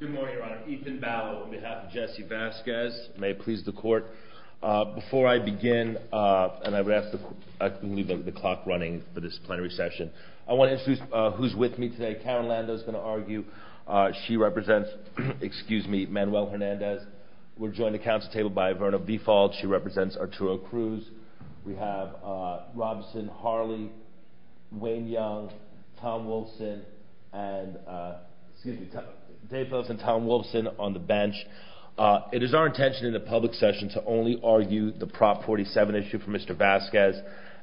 Good morning, your honor. Ethan Ballot on behalf of Jesse Vasquez. May it please the court. Before I begin, and I would ask that we leave the clock running for this plenary session, I want to introduce who's with me today. Karen Lando is going to argue. She represents, excuse me, Manuel Hernandez. We're joined at the council table by Verna B. Fault. She represents Arturo Cruz. We have Robinson, Harley, Wayne Young, Tom Wilson, and excuse me, Dave Wilson, Tom Wilson on the bench. It is our intention in the public session to only argue the Prop 47 issue for Mr. Vasquez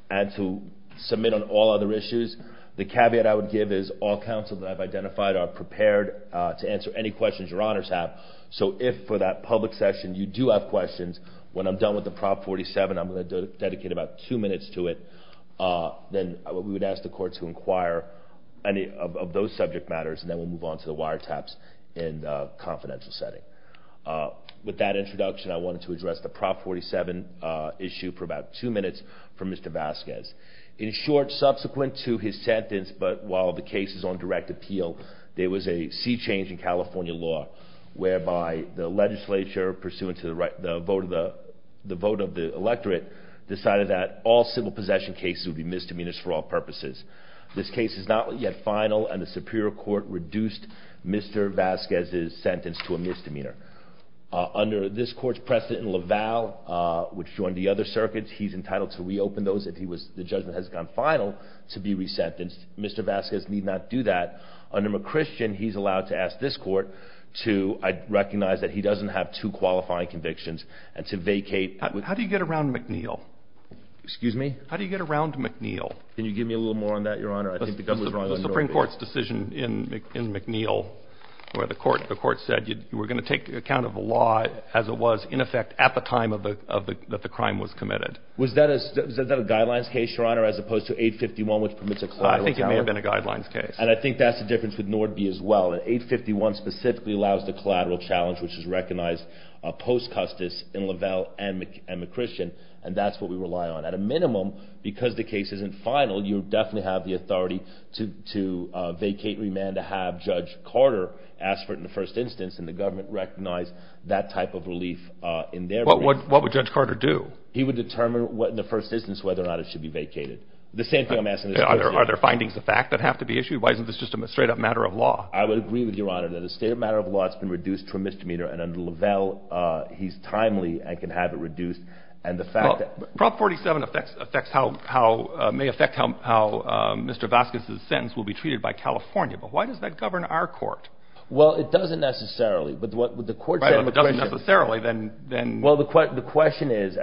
and to submit on all other issues. The caveat I would give is all counsel that I've identified are prepared to answer any questions your honors have, so if for that public session you do have questions, when I'm done with the Prop 47, I'm going to dedicate about two minutes to it. Then we would ask the court to inquire any of those subject matters, and then we'll move on to the wiretap. With that introduction, I wanted to address the Prop 47 issue for about two minutes from Mr. Vasquez. In short, subsequent to his sentence, but while the case is on direct appeal, there was a sea change in California law whereby the legislature, pursuant to the vote of the electorate, decided that all civil possession cases would be misdemeanors for all purposes. This case is not yet final, and the superior court reduced misdemeanors under Mr. Vasquez's sentence to a misdemeanor. Under this court's precedent, LaValle, which joined the other circuits, he's entitled to reopen those if the judgment has gone final to be resentenced. Mr. Vasquez need not do that. Under McChristian, he's allowed to ask this court to recognize that he doesn't have two qualifying convictions and to vacate. How do you get around McNeil? Excuse me? How do you get around McNeil? Can you give me a little more on that, Your Honor? The Supreme Court's decision in McNeil where the court said you were going to take account of the law as it was in effect at the time that the crime was committed. Was that a guidelines case, Your Honor, as opposed to 851, which permits a collateral challenge? I think it may have been a guidelines case. And I think that's the difference with Nordby as well. 851 specifically allows the collateral challenge, which is recognized post-Custis in LaValle and McChristian, and that's what we rely on. At a minimum, because the case isn't final, you definitely have the authority to vacate remand to have Judge Carter ask for it in the first instance, and the government recognized that type of relief in their remand. What would Judge Carter do? He would determine in the first instance whether or not it should be vacated. The same thing I'm asking this question. Are there findings of fact that have to be issued? Why isn't this just a straight-up matter of law? I would agree with you, Your Honor, that it's a straight-up matter of law. It's been reduced to a misdemeanor, and under LaValle, he's timely and can have it reduced. Prop 47 may affect how Mr. Vasquez's sentence will be treated by California, but why does that govern our court? Well, it doesn't necessarily. Right, but it doesn't necessarily. Well, the question is,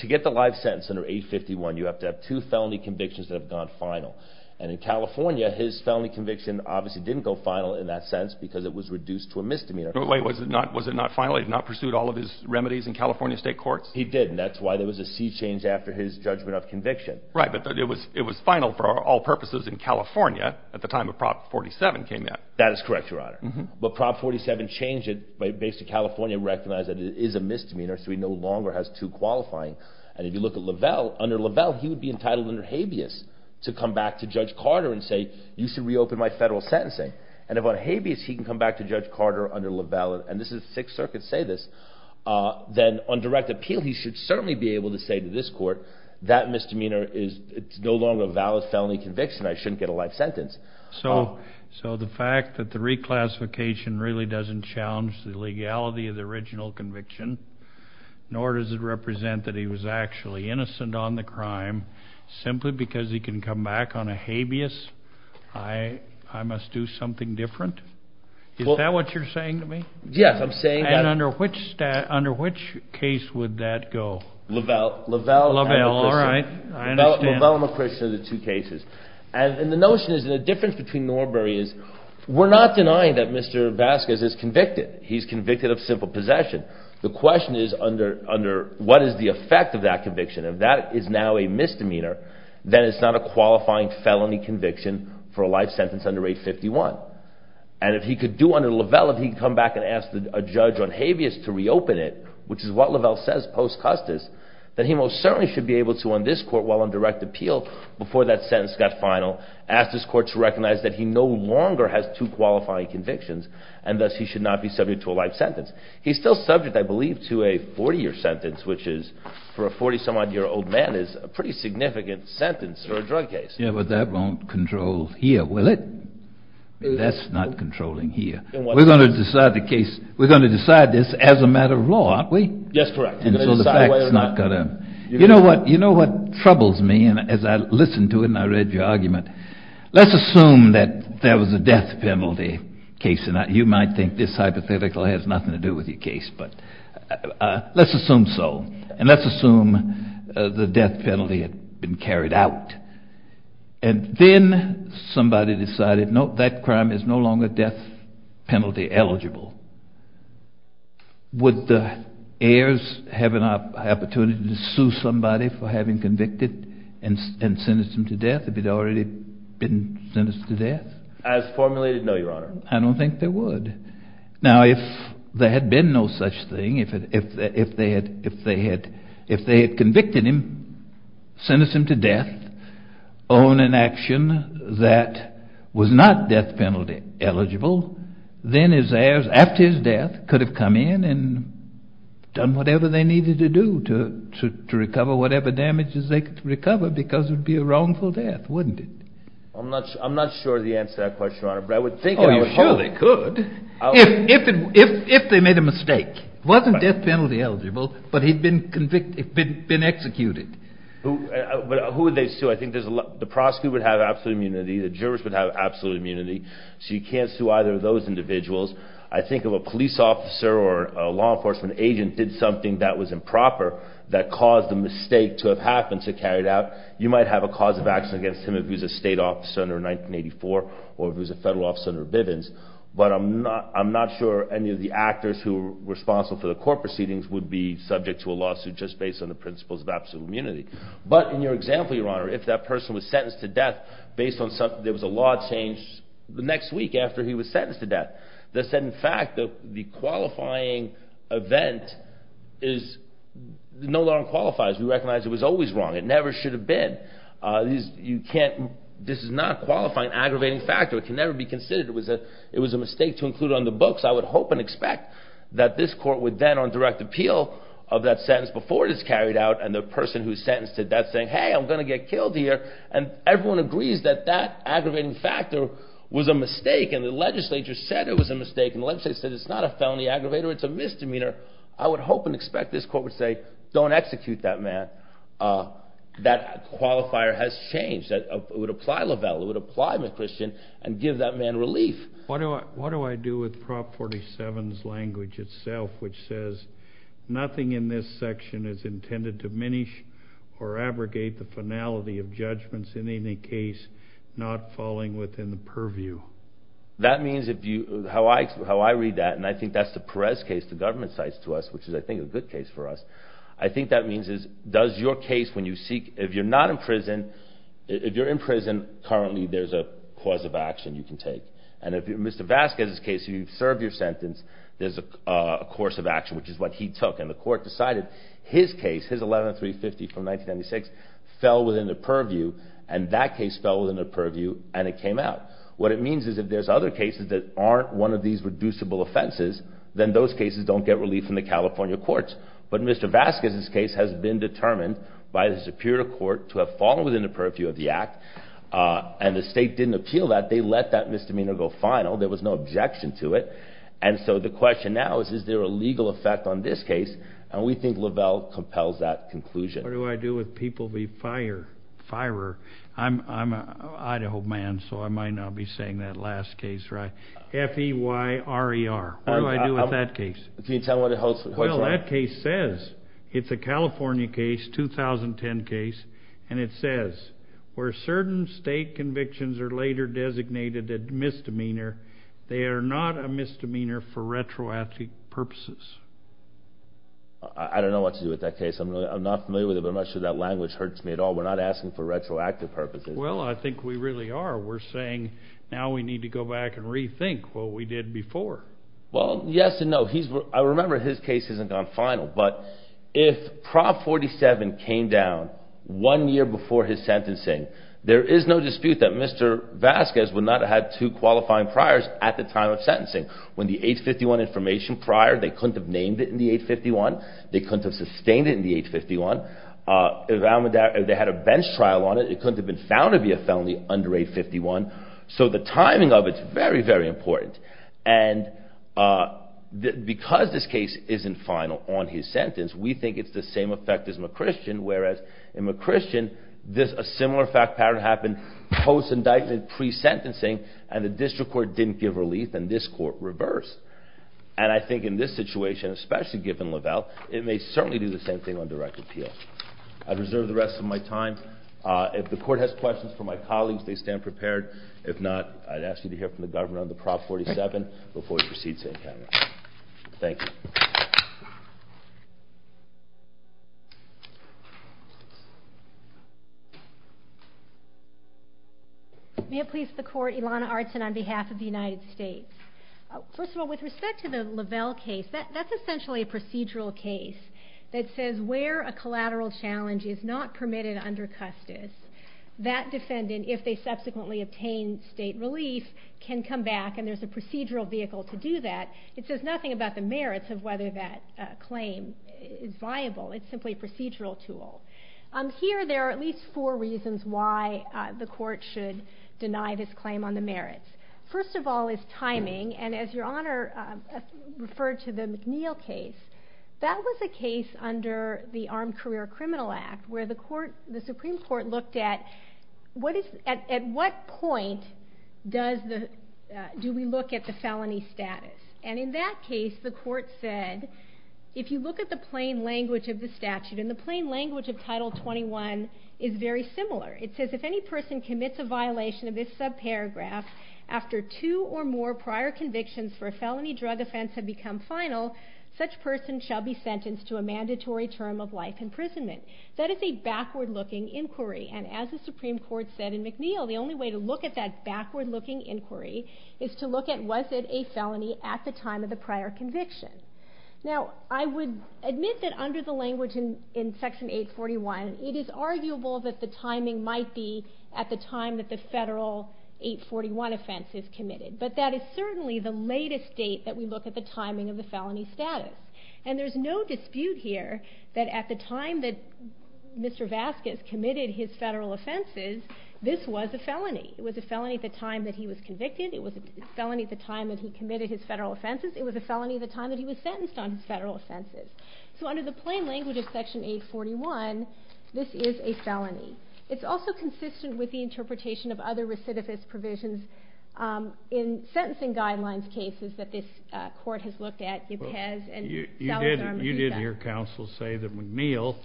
to get the life sentence under 851, you have to have two felony convictions that have gone final. And in California, his felony conviction obviously didn't go final in that sentence because it was reduced to a misdemeanor. Wait, was it not final? He had not pursued all of his remedies in California state courts? He didn't. That's why there was a sea change after his judgment of conviction. Right, but it was final for all purposes in California at the time that Prop 47 came out. That is correct, Your Honor, but Prop 47 changed it. Basically, California recognized that it is a misdemeanor, so he no longer has two qualifying. And if you look at LaValle, under LaValle, he would be entitled under habeas to come back to Judge Carter and say, you should reopen my federal sentencing. And if on habeas he can come back to Judge Carter under LaValle, and this is Sixth Circuit say this, then on direct appeal, he should certainly be able to say to this court, that misdemeanor is no longer a valid felony conviction. I shouldn't get a life sentence. So the fact that the reclassification really doesn't challenge the legality of the original conviction, nor does it represent that he was actually innocent on the crime, simply because he can come back on a habeas, I must do something different? Is that what you're saying to me? Yes, I'm saying that. And under which case would that go? LaValle. LaValle and McCrish are the two cases. And the notion is, and the difference between Norbury is, we're not denying that Mr. Vasquez is convicted. He's convicted of simple possession. The question is, what is the effect of that conviction? If that is now a misdemeanor, then it's not a qualifying felony conviction for a life sentence under 851. And if he could do under LaValle, if he could come back and ask a judge on habeas to reopen it, which is what LaValle says post-Custis, then he most certainly should be able to, on this court, while on direct appeal, before that sentence got final, ask this court to recognize that he no longer has two qualifying convictions, and thus he should not be subject to a life sentence. He's still subject, I believe, to a 40-year sentence, which is, for a 40-some-odd-year-old man, is a pretty significant sentence for a drug case. Yeah, but that won't control here, will it? That's not controlling here. We're going to decide this as a matter of law, aren't we? Yes, correct. You know what troubles me, and as I listened to it and I read your argument, let's assume that there was a death penalty case, and you might think this hypothetical has nothing to do with your case, but let's assume so, and let's assume the death penalty had been carried out, and then somebody decided, no, that crime is no longer death penalty eligible. Would the heirs have an opportunity to sue somebody for having convicted and sentenced them to death if they'd already been sentenced to death? As formulated, no, Your Honor. I don't think they would. Now, if there had been no such thing, if they had convicted him, sentenced him to death on an action that was not death penalty eligible, then his heirs, after his death, could have come in and done whatever they needed to do to recover whatever damages they could recover because it would be a wrongful death, wouldn't it? I'm not sure of the answer to that question, Your Honor. Oh, you're sure they could if they made a mistake. It wasn't death penalty eligible, but he'd been executed. But who would they sue? I think the prosecutor would have absolute immunity. The jurist would have absolute immunity. So you can't sue either of those individuals. I think if a police officer or a law enforcement agent did something that was improper that caused the mistake to have happened to carry it out, you might have a cause of action against him if he was a state officer under 1984 or if he was a federal officer under Bivens. But I'm not sure any of the actors who were responsible for the court proceedings would be subject to a lawsuit just based on the principles of absolute immunity. There was a law changed the next week after he was sentenced to death that said, in fact, the qualifying event no longer qualifies. We recognize it was always wrong. It never should have been. This is not a qualifying aggravating factor. It can never be considered. It was a mistake to include on the books. I would hope and expect that this court would then, on direct appeal of that sentence before it is carried out and the person who is sentenced to death saying, hey, I'm going to get killed here. And everyone agrees that that aggravating factor was a mistake and the legislature said it was a mistake and the legislature said it's not a felony aggravator, it's a misdemeanor. I would hope and expect this court would say, don't execute that man. That qualifier has changed. It would apply LaValle. It would apply McChristian and give that man relief. What do I do with Prop 47's language itself which says, nothing in this section is intended to diminish or abrogate the finality of judgments in any case not falling within the purview. That means, how I read that, and I think that's the Perez case, the government cites to us, which is, I think, a good case for us. I think that means does your case, when you seek, if you're not in prison, if you're in prison, currently there's a cause of action you can take. And if you're Mr. Vasquez's case, you've served your sentence, there's a course of action, which is what he took. And the court decided his case, his 11-350 from 1996, fell within the purview, and that case fell within the purview, and it came out. What it means is if there's other cases that aren't one of these reducible offenses, then those cases don't get relief from the California courts. But Mr. Vasquez's case has been determined by the Superior Court to have fallen within the purview of the act, and the state didn't appeal that. They let that misdemeanor go final. There was no objection to it. And so the question now is, is there a legal effect on this case? And we think Lavelle compels that conclusion. What do I do if people be fire? I'm an Idaho man, so I might not be saying that last case right. F-E-Y-R-E-R. What do I do with that case? Well, that case says it's a California case, 2010 case, and it says where certain state convictions are later designated a misdemeanor, they are not a misdemeanor for retroactive purposes. I don't know what to do with that case. I'm not familiar with it, but I'm not sure that language hurts me at all. We're not asking for retroactive purposes. Well, I think we really are. We're saying now we need to go back and rethink what we did before. Well, yes and no. I remember his case hasn't gone final, but if Prop 47 came down one year before his sentencing, there is no dispute that Mr. Vasquez would not have had two qualifying priors at the time of sentencing. When the 851 information prior, they couldn't have named it in the 851. They couldn't have sustained it in the 851. If they had a bench trial on it, it couldn't have been found to be a felony under 851. So the timing of it is very, very important. And because this case isn't final on his sentence, we think it's the same effect as McChristian, whereas in McChristian, a similar fact pattern happened post-indictment, pre-sentencing, and the district court didn't give relief, and this court reversed. And I think in this situation, especially given Lavelle, it may certainly do the same thing on direct appeal. I reserve the rest of my time. If the court has questions for my colleagues, they stand prepared. If not, I'd ask you to hear from the government on the Prop 47 before we proceed to any comments. Thank you. May it please the Court, Ilana Artson on behalf of the United States. First of all, with respect to the Lavelle case, that's essentially a procedural case that says where a collateral challenge is not permitted under custis, that defendant, if they subsequently obtain state relief, can come back, and there's a procedural vehicle to do that. It says nothing about the merits of whether that claim is viable. It's simply a procedural tool. Here, there are at least four reasons why the court should deny this claim on the merits. First of all is timing, and as Your Honor referred to the McNeil case, that was a case under the Armed Career Criminal Act where the Supreme Court looked at at what point do we look at the felony status. In that case, the court said, if you look at the plain language of the statute, and the plain language of Title 21 is very similar. It says if any person commits a violation of this subparagraph after two or more prior convictions for a felony drug offense have become final, such person shall be sentenced to a mandatory term of life imprisonment. That is a backward-looking inquiry, and as the Supreme Court said in McNeil, the only way to look at that backward-looking inquiry is to look at was it a felony at the time of the prior conviction. Now, I would admit that under the language in Section 841, it is arguable that the timing might be at the time that the federal 841 offense is committed, but that is certainly the latest date that we look at the timing of the felony status. And there's no dispute here that at the time that Mr. Vasquez committed his federal offenses, this was a felony. It was a felony at the time that he was convicted. It was a felony at the time that he committed his federal offenses. It was a felony at the time that he was sentenced on his federal offenses. So under the plain language of Section 841, this is a felony. It's also consistent with the interpretation of other recidivist provisions in sentencing guidelines cases that this Court has looked at. You did hear counsel say that McNeil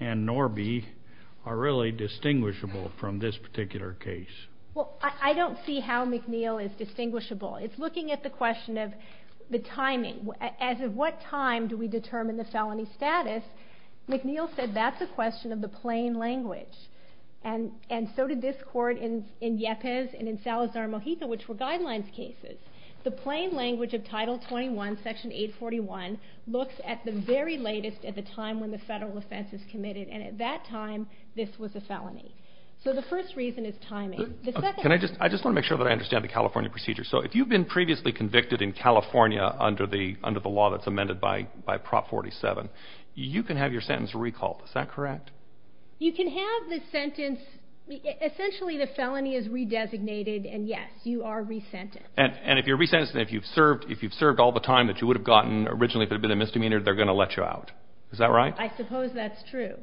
and Norby are really distinguishable from this particular case. Well, I don't see how McNeil is distinguishable. It's looking at the question of the timing. As of what time do we determine the felony status, McNeil said that's a question of the plain language, and so did this Court in Yepes and in Salazar-Mojica, which were guidelines cases. The plain language of Title 21, Section 841, looks at the very latest at the time when the federal offense is committed, and at that time this was a felony. So the first reason is timing. I just want to make sure that I understand the California procedure. So if you've been previously convicted in California under the law that's amended by Prop 47, you can have your sentence recalled, is that correct? You can have the sentence. Essentially the felony is re-designated, and yes, you are resentenced. And if you're resentenced and if you've served all the time that you would have gotten originally if it had been a misdemeanor, they're going to let you out. Is that right? I suppose that's true.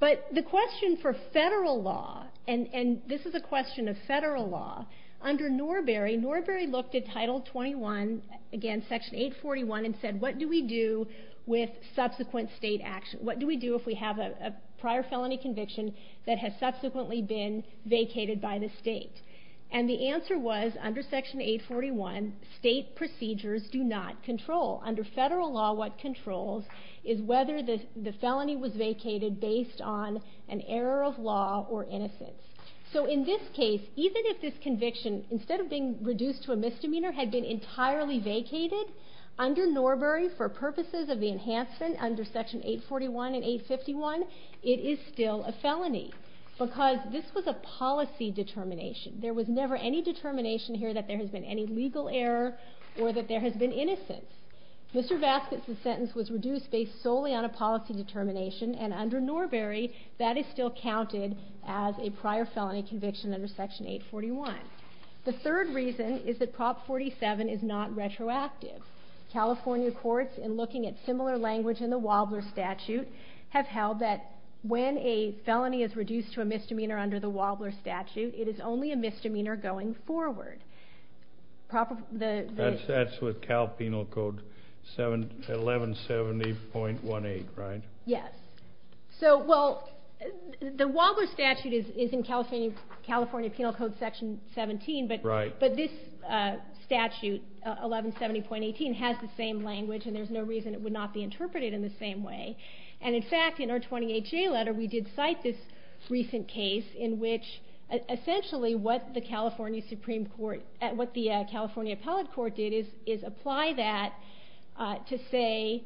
But the question for federal law, and this is a question of federal law, under Norbery, Norbery looked at Title 21, again Section 841, and said, what do we do with subsequent state action? What do we do if we have a prior felony conviction that has subsequently been vacated by the state? And the answer was, under Section 841, state procedures do not control. Under federal law, what controls is whether the felony was vacated based on an error of law or innocence. So in this case, even if this conviction, instead of being reduced to a misdemeanor, had been entirely vacated, under Norbery, for purposes of the enhancement under Section 841 and 851, it is still a felony because this was a policy determination. There was never any determination here that there has been any legal error or that there has been innocence. Mr. Vasquez's sentence was reduced based solely on a policy determination, and under Norbery, that is still counted as a prior felony conviction under Section 841. The third reason is that Prop 47 is not retroactive. California courts, in looking at similar language in the Wobbler statute, have held that when a felony is reduced to a misdemeanor under the Wobbler statute, it is only a misdemeanor going forward. That's with Cal Penal Code 1170.18, right? Yes. So, well, the Wobbler statute is in California Penal Code Section 17, but this statute, 1170.18, has the same language, and there's no reason it would not be interpreted in the same way. And in fact, in our 20HA letter, we did cite this recent case in which essentially what the California Supreme Court, what the California Appellate Court did is apply that to say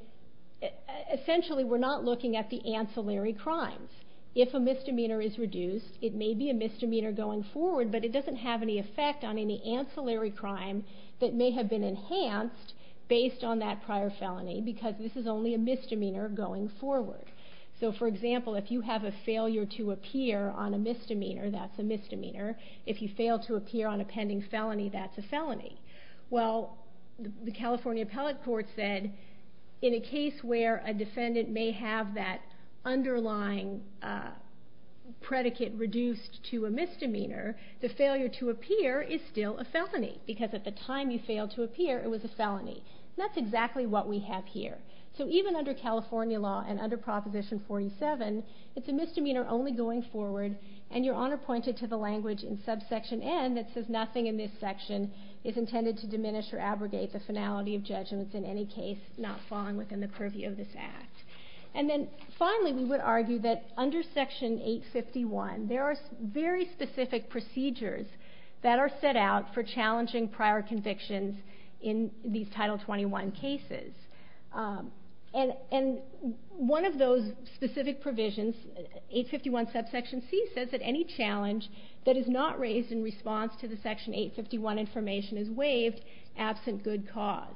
essentially we're not looking at the ancillary crimes. If a misdemeanor is reduced, it may be a misdemeanor going forward, but it doesn't have any effect on any ancillary crime that may have been enhanced based on that prior felony because this is only a misdemeanor going forward. So, for example, if you have a failure to appear on a misdemeanor, that's a misdemeanor. If you fail to appear on a pending felony, that's a felony. Well, the California Appellate Court said in a case where a defendant may have that underlying predicate reduced to a misdemeanor, the failure to appear is still a felony because at the time you failed to appear, it was a felony. That's exactly what we have here. So even under California law and under Proposition 47, it's a misdemeanor only going forward, and Your Honor pointed to the language in subsection N that says nothing in this section is intended to diminish or abrogate the finality of judgments in any case not falling within the purview of this Act. And then finally, we would argue that under section 851, there are very specific procedures that are set out for challenging prior convictions in these Title 21 cases. And one of those specific provisions, 851 subsection C, says that any challenge that is not raised in response to the section 851 information is waived absent good cause.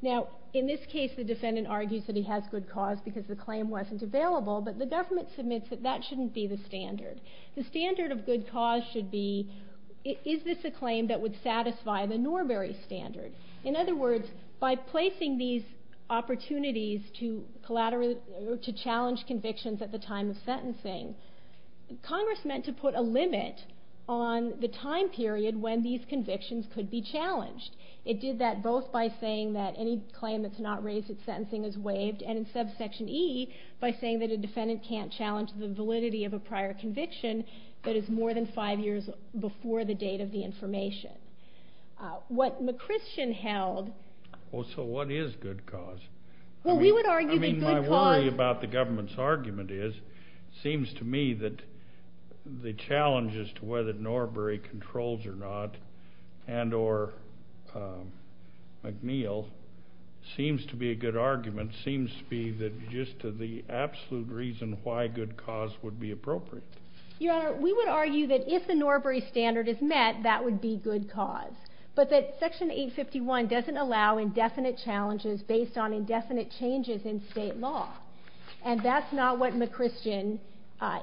Now, in this case, the defendant argues that he has good cause because the claim wasn't available, but the government submits that that shouldn't be the standard. The standard of good cause should be, is this a claim that would satisfy the Norbury standard? In other words, by placing these opportunities to challenge convictions at the time of sentencing, Congress meant to put a limit on the time period when these convictions could be challenged. It did that both by saying that any claim that's not raised at sentencing is waived, and in subsection E, by saying that a defendant can't challenge the validity of a prior conviction that is more than five years before the date of the information. What McChristian held... Oh, so what is good cause? Well, we would argue that good cause... To me, the challenge as to whether Norbury controls or not, and or McNeil, seems to be a good argument, seems to be that just the absolute reason why good cause would be appropriate. Your Honor, we would argue that if the Norbury standard is met, that would be good cause, but that section 851 doesn't allow indefinite challenges based on indefinite changes in state law, and that's not what McChristian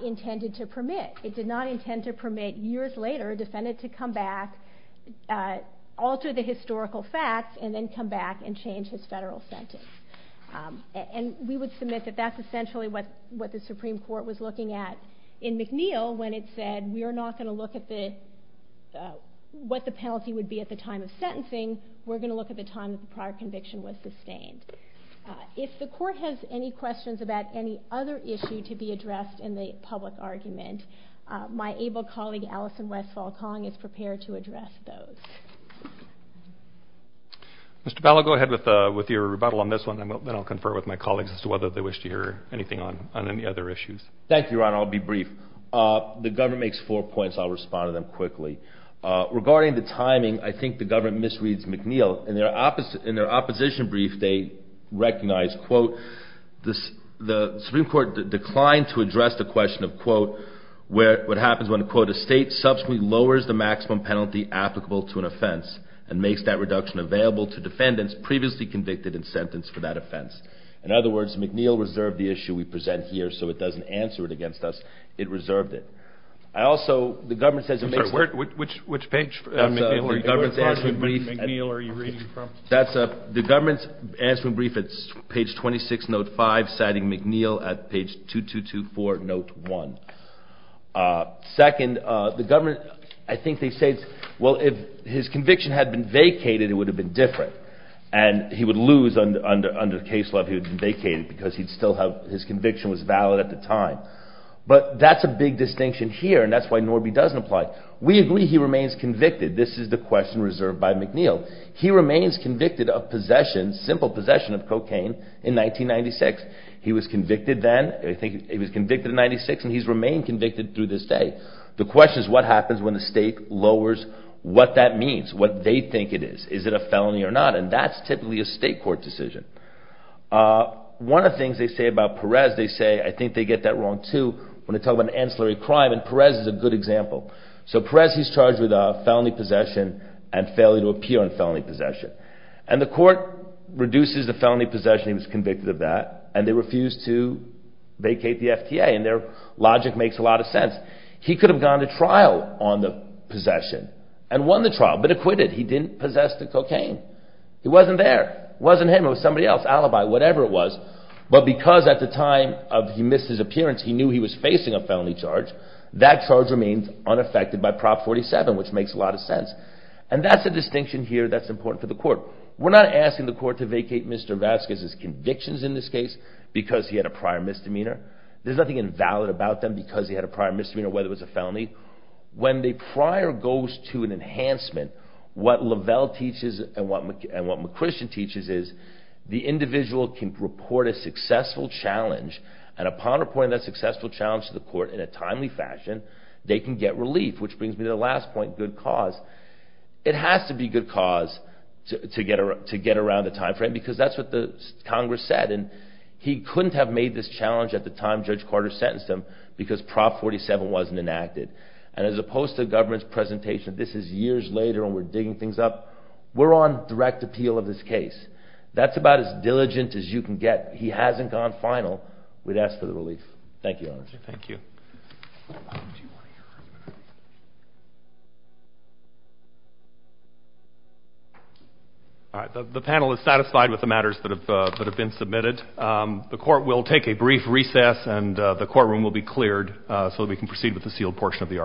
intended to permit. It did not intend to permit years later a defendant to come back, alter the historical facts, and then come back and change his federal sentence. And we would submit that that's essentially what the Supreme Court was looking at in McNeil when it said we are not going to look at what the penalty would be at the time of sentencing, we're going to look at the time that the prior conviction was sustained. If the court has any questions about any other issue to be addressed in the public argument, my able colleague Allison Westfall-Kong is prepared to address those. Mr. Powell, go ahead with your rebuttal on this one, and then I'll confer with my colleagues as to whether they wish to hear anything on any other issues. Thank you, Your Honor. I'll be brief. The government makes four points. I'll respond to them quickly. Regarding the timing, I think the government misreads McNeil. In their opposition brief, they recognize, quote, the Supreme Court declined to address the question of, quote, what happens when, quote, a state subsequently lowers the maximum penalty applicable to an offense and makes that reduction available to defendants previously convicted and sentenced for that offense. In other words, McNeil reserved the issue we present here, so it doesn't answer it against us. It reserved it. I also, the government says it makes... I'm sorry, which page of McNeil are you referring to? That's the government's answer in brief. It's page 26, note 5, citing McNeil at page 2224, note 1. Second, the government, I think they say, well, if his conviction had been vacated, it would have been different, and he would lose under the case law if he had been vacated because his conviction was valid at the time. But that's a big distinction here, and that's why Norby doesn't apply. We agree he remains convicted. This is the question reserved by McNeil. He remains convicted of possession, simple possession of cocaine, in 1996. He was convicted then, I think he was convicted in 1996, and he's remained convicted through this day. The question is what happens when the state lowers what that means, what they think it is. Is it a felony or not? And that's typically a state court decision. One of the things they say about Perez, they say, I think they get that wrong too, when they talk about an ancillary crime, and Perez is a good example. So Perez, he's charged with felony possession and failure to appear on felony possession. And the court reduces the felony possession, he was convicted of that, and they refuse to vacate the FTA, and their logic makes a lot of sense. He could have gone to trial on the possession and won the trial, but acquitted. He didn't possess the cocaine. It wasn't there. It wasn't him, it was somebody else, alibi, whatever it was. But because at the time of he missed his appearance, he knew he was facing a felony charge, that charge remains unaffected by Prop. 47, which makes a lot of sense. And that's a distinction here that's important for the court. We're not asking the court to vacate Mr. Vasquez's convictions in this case because he had a prior misdemeanor. There's nothing invalid about them because he had a prior misdemeanor, whether it was a felony. When the prior goes to an enhancement, what Lavelle teaches and what McChristian teaches is the individual can report a successful challenge, and upon reporting that successful challenge to the court in a timely fashion, they can get relief, which brings me to the last point, good cause. It has to be good cause to get around the time frame because that's what Congress said. He couldn't have made this challenge at the time Judge Carter sentenced him because Prop. 47 wasn't enacted. And as opposed to the government's presentation, this is years later and we're digging things up, we're on direct appeal of this case. That's about as diligent as you can get. If he hasn't gone final, we'd ask for the relief. Thank you, Your Honor. Thank you. The panel is satisfied with the matters that have been submitted. The court will take a brief recess and the courtroom will be cleared so that we can proceed with the sealed portion of the argument.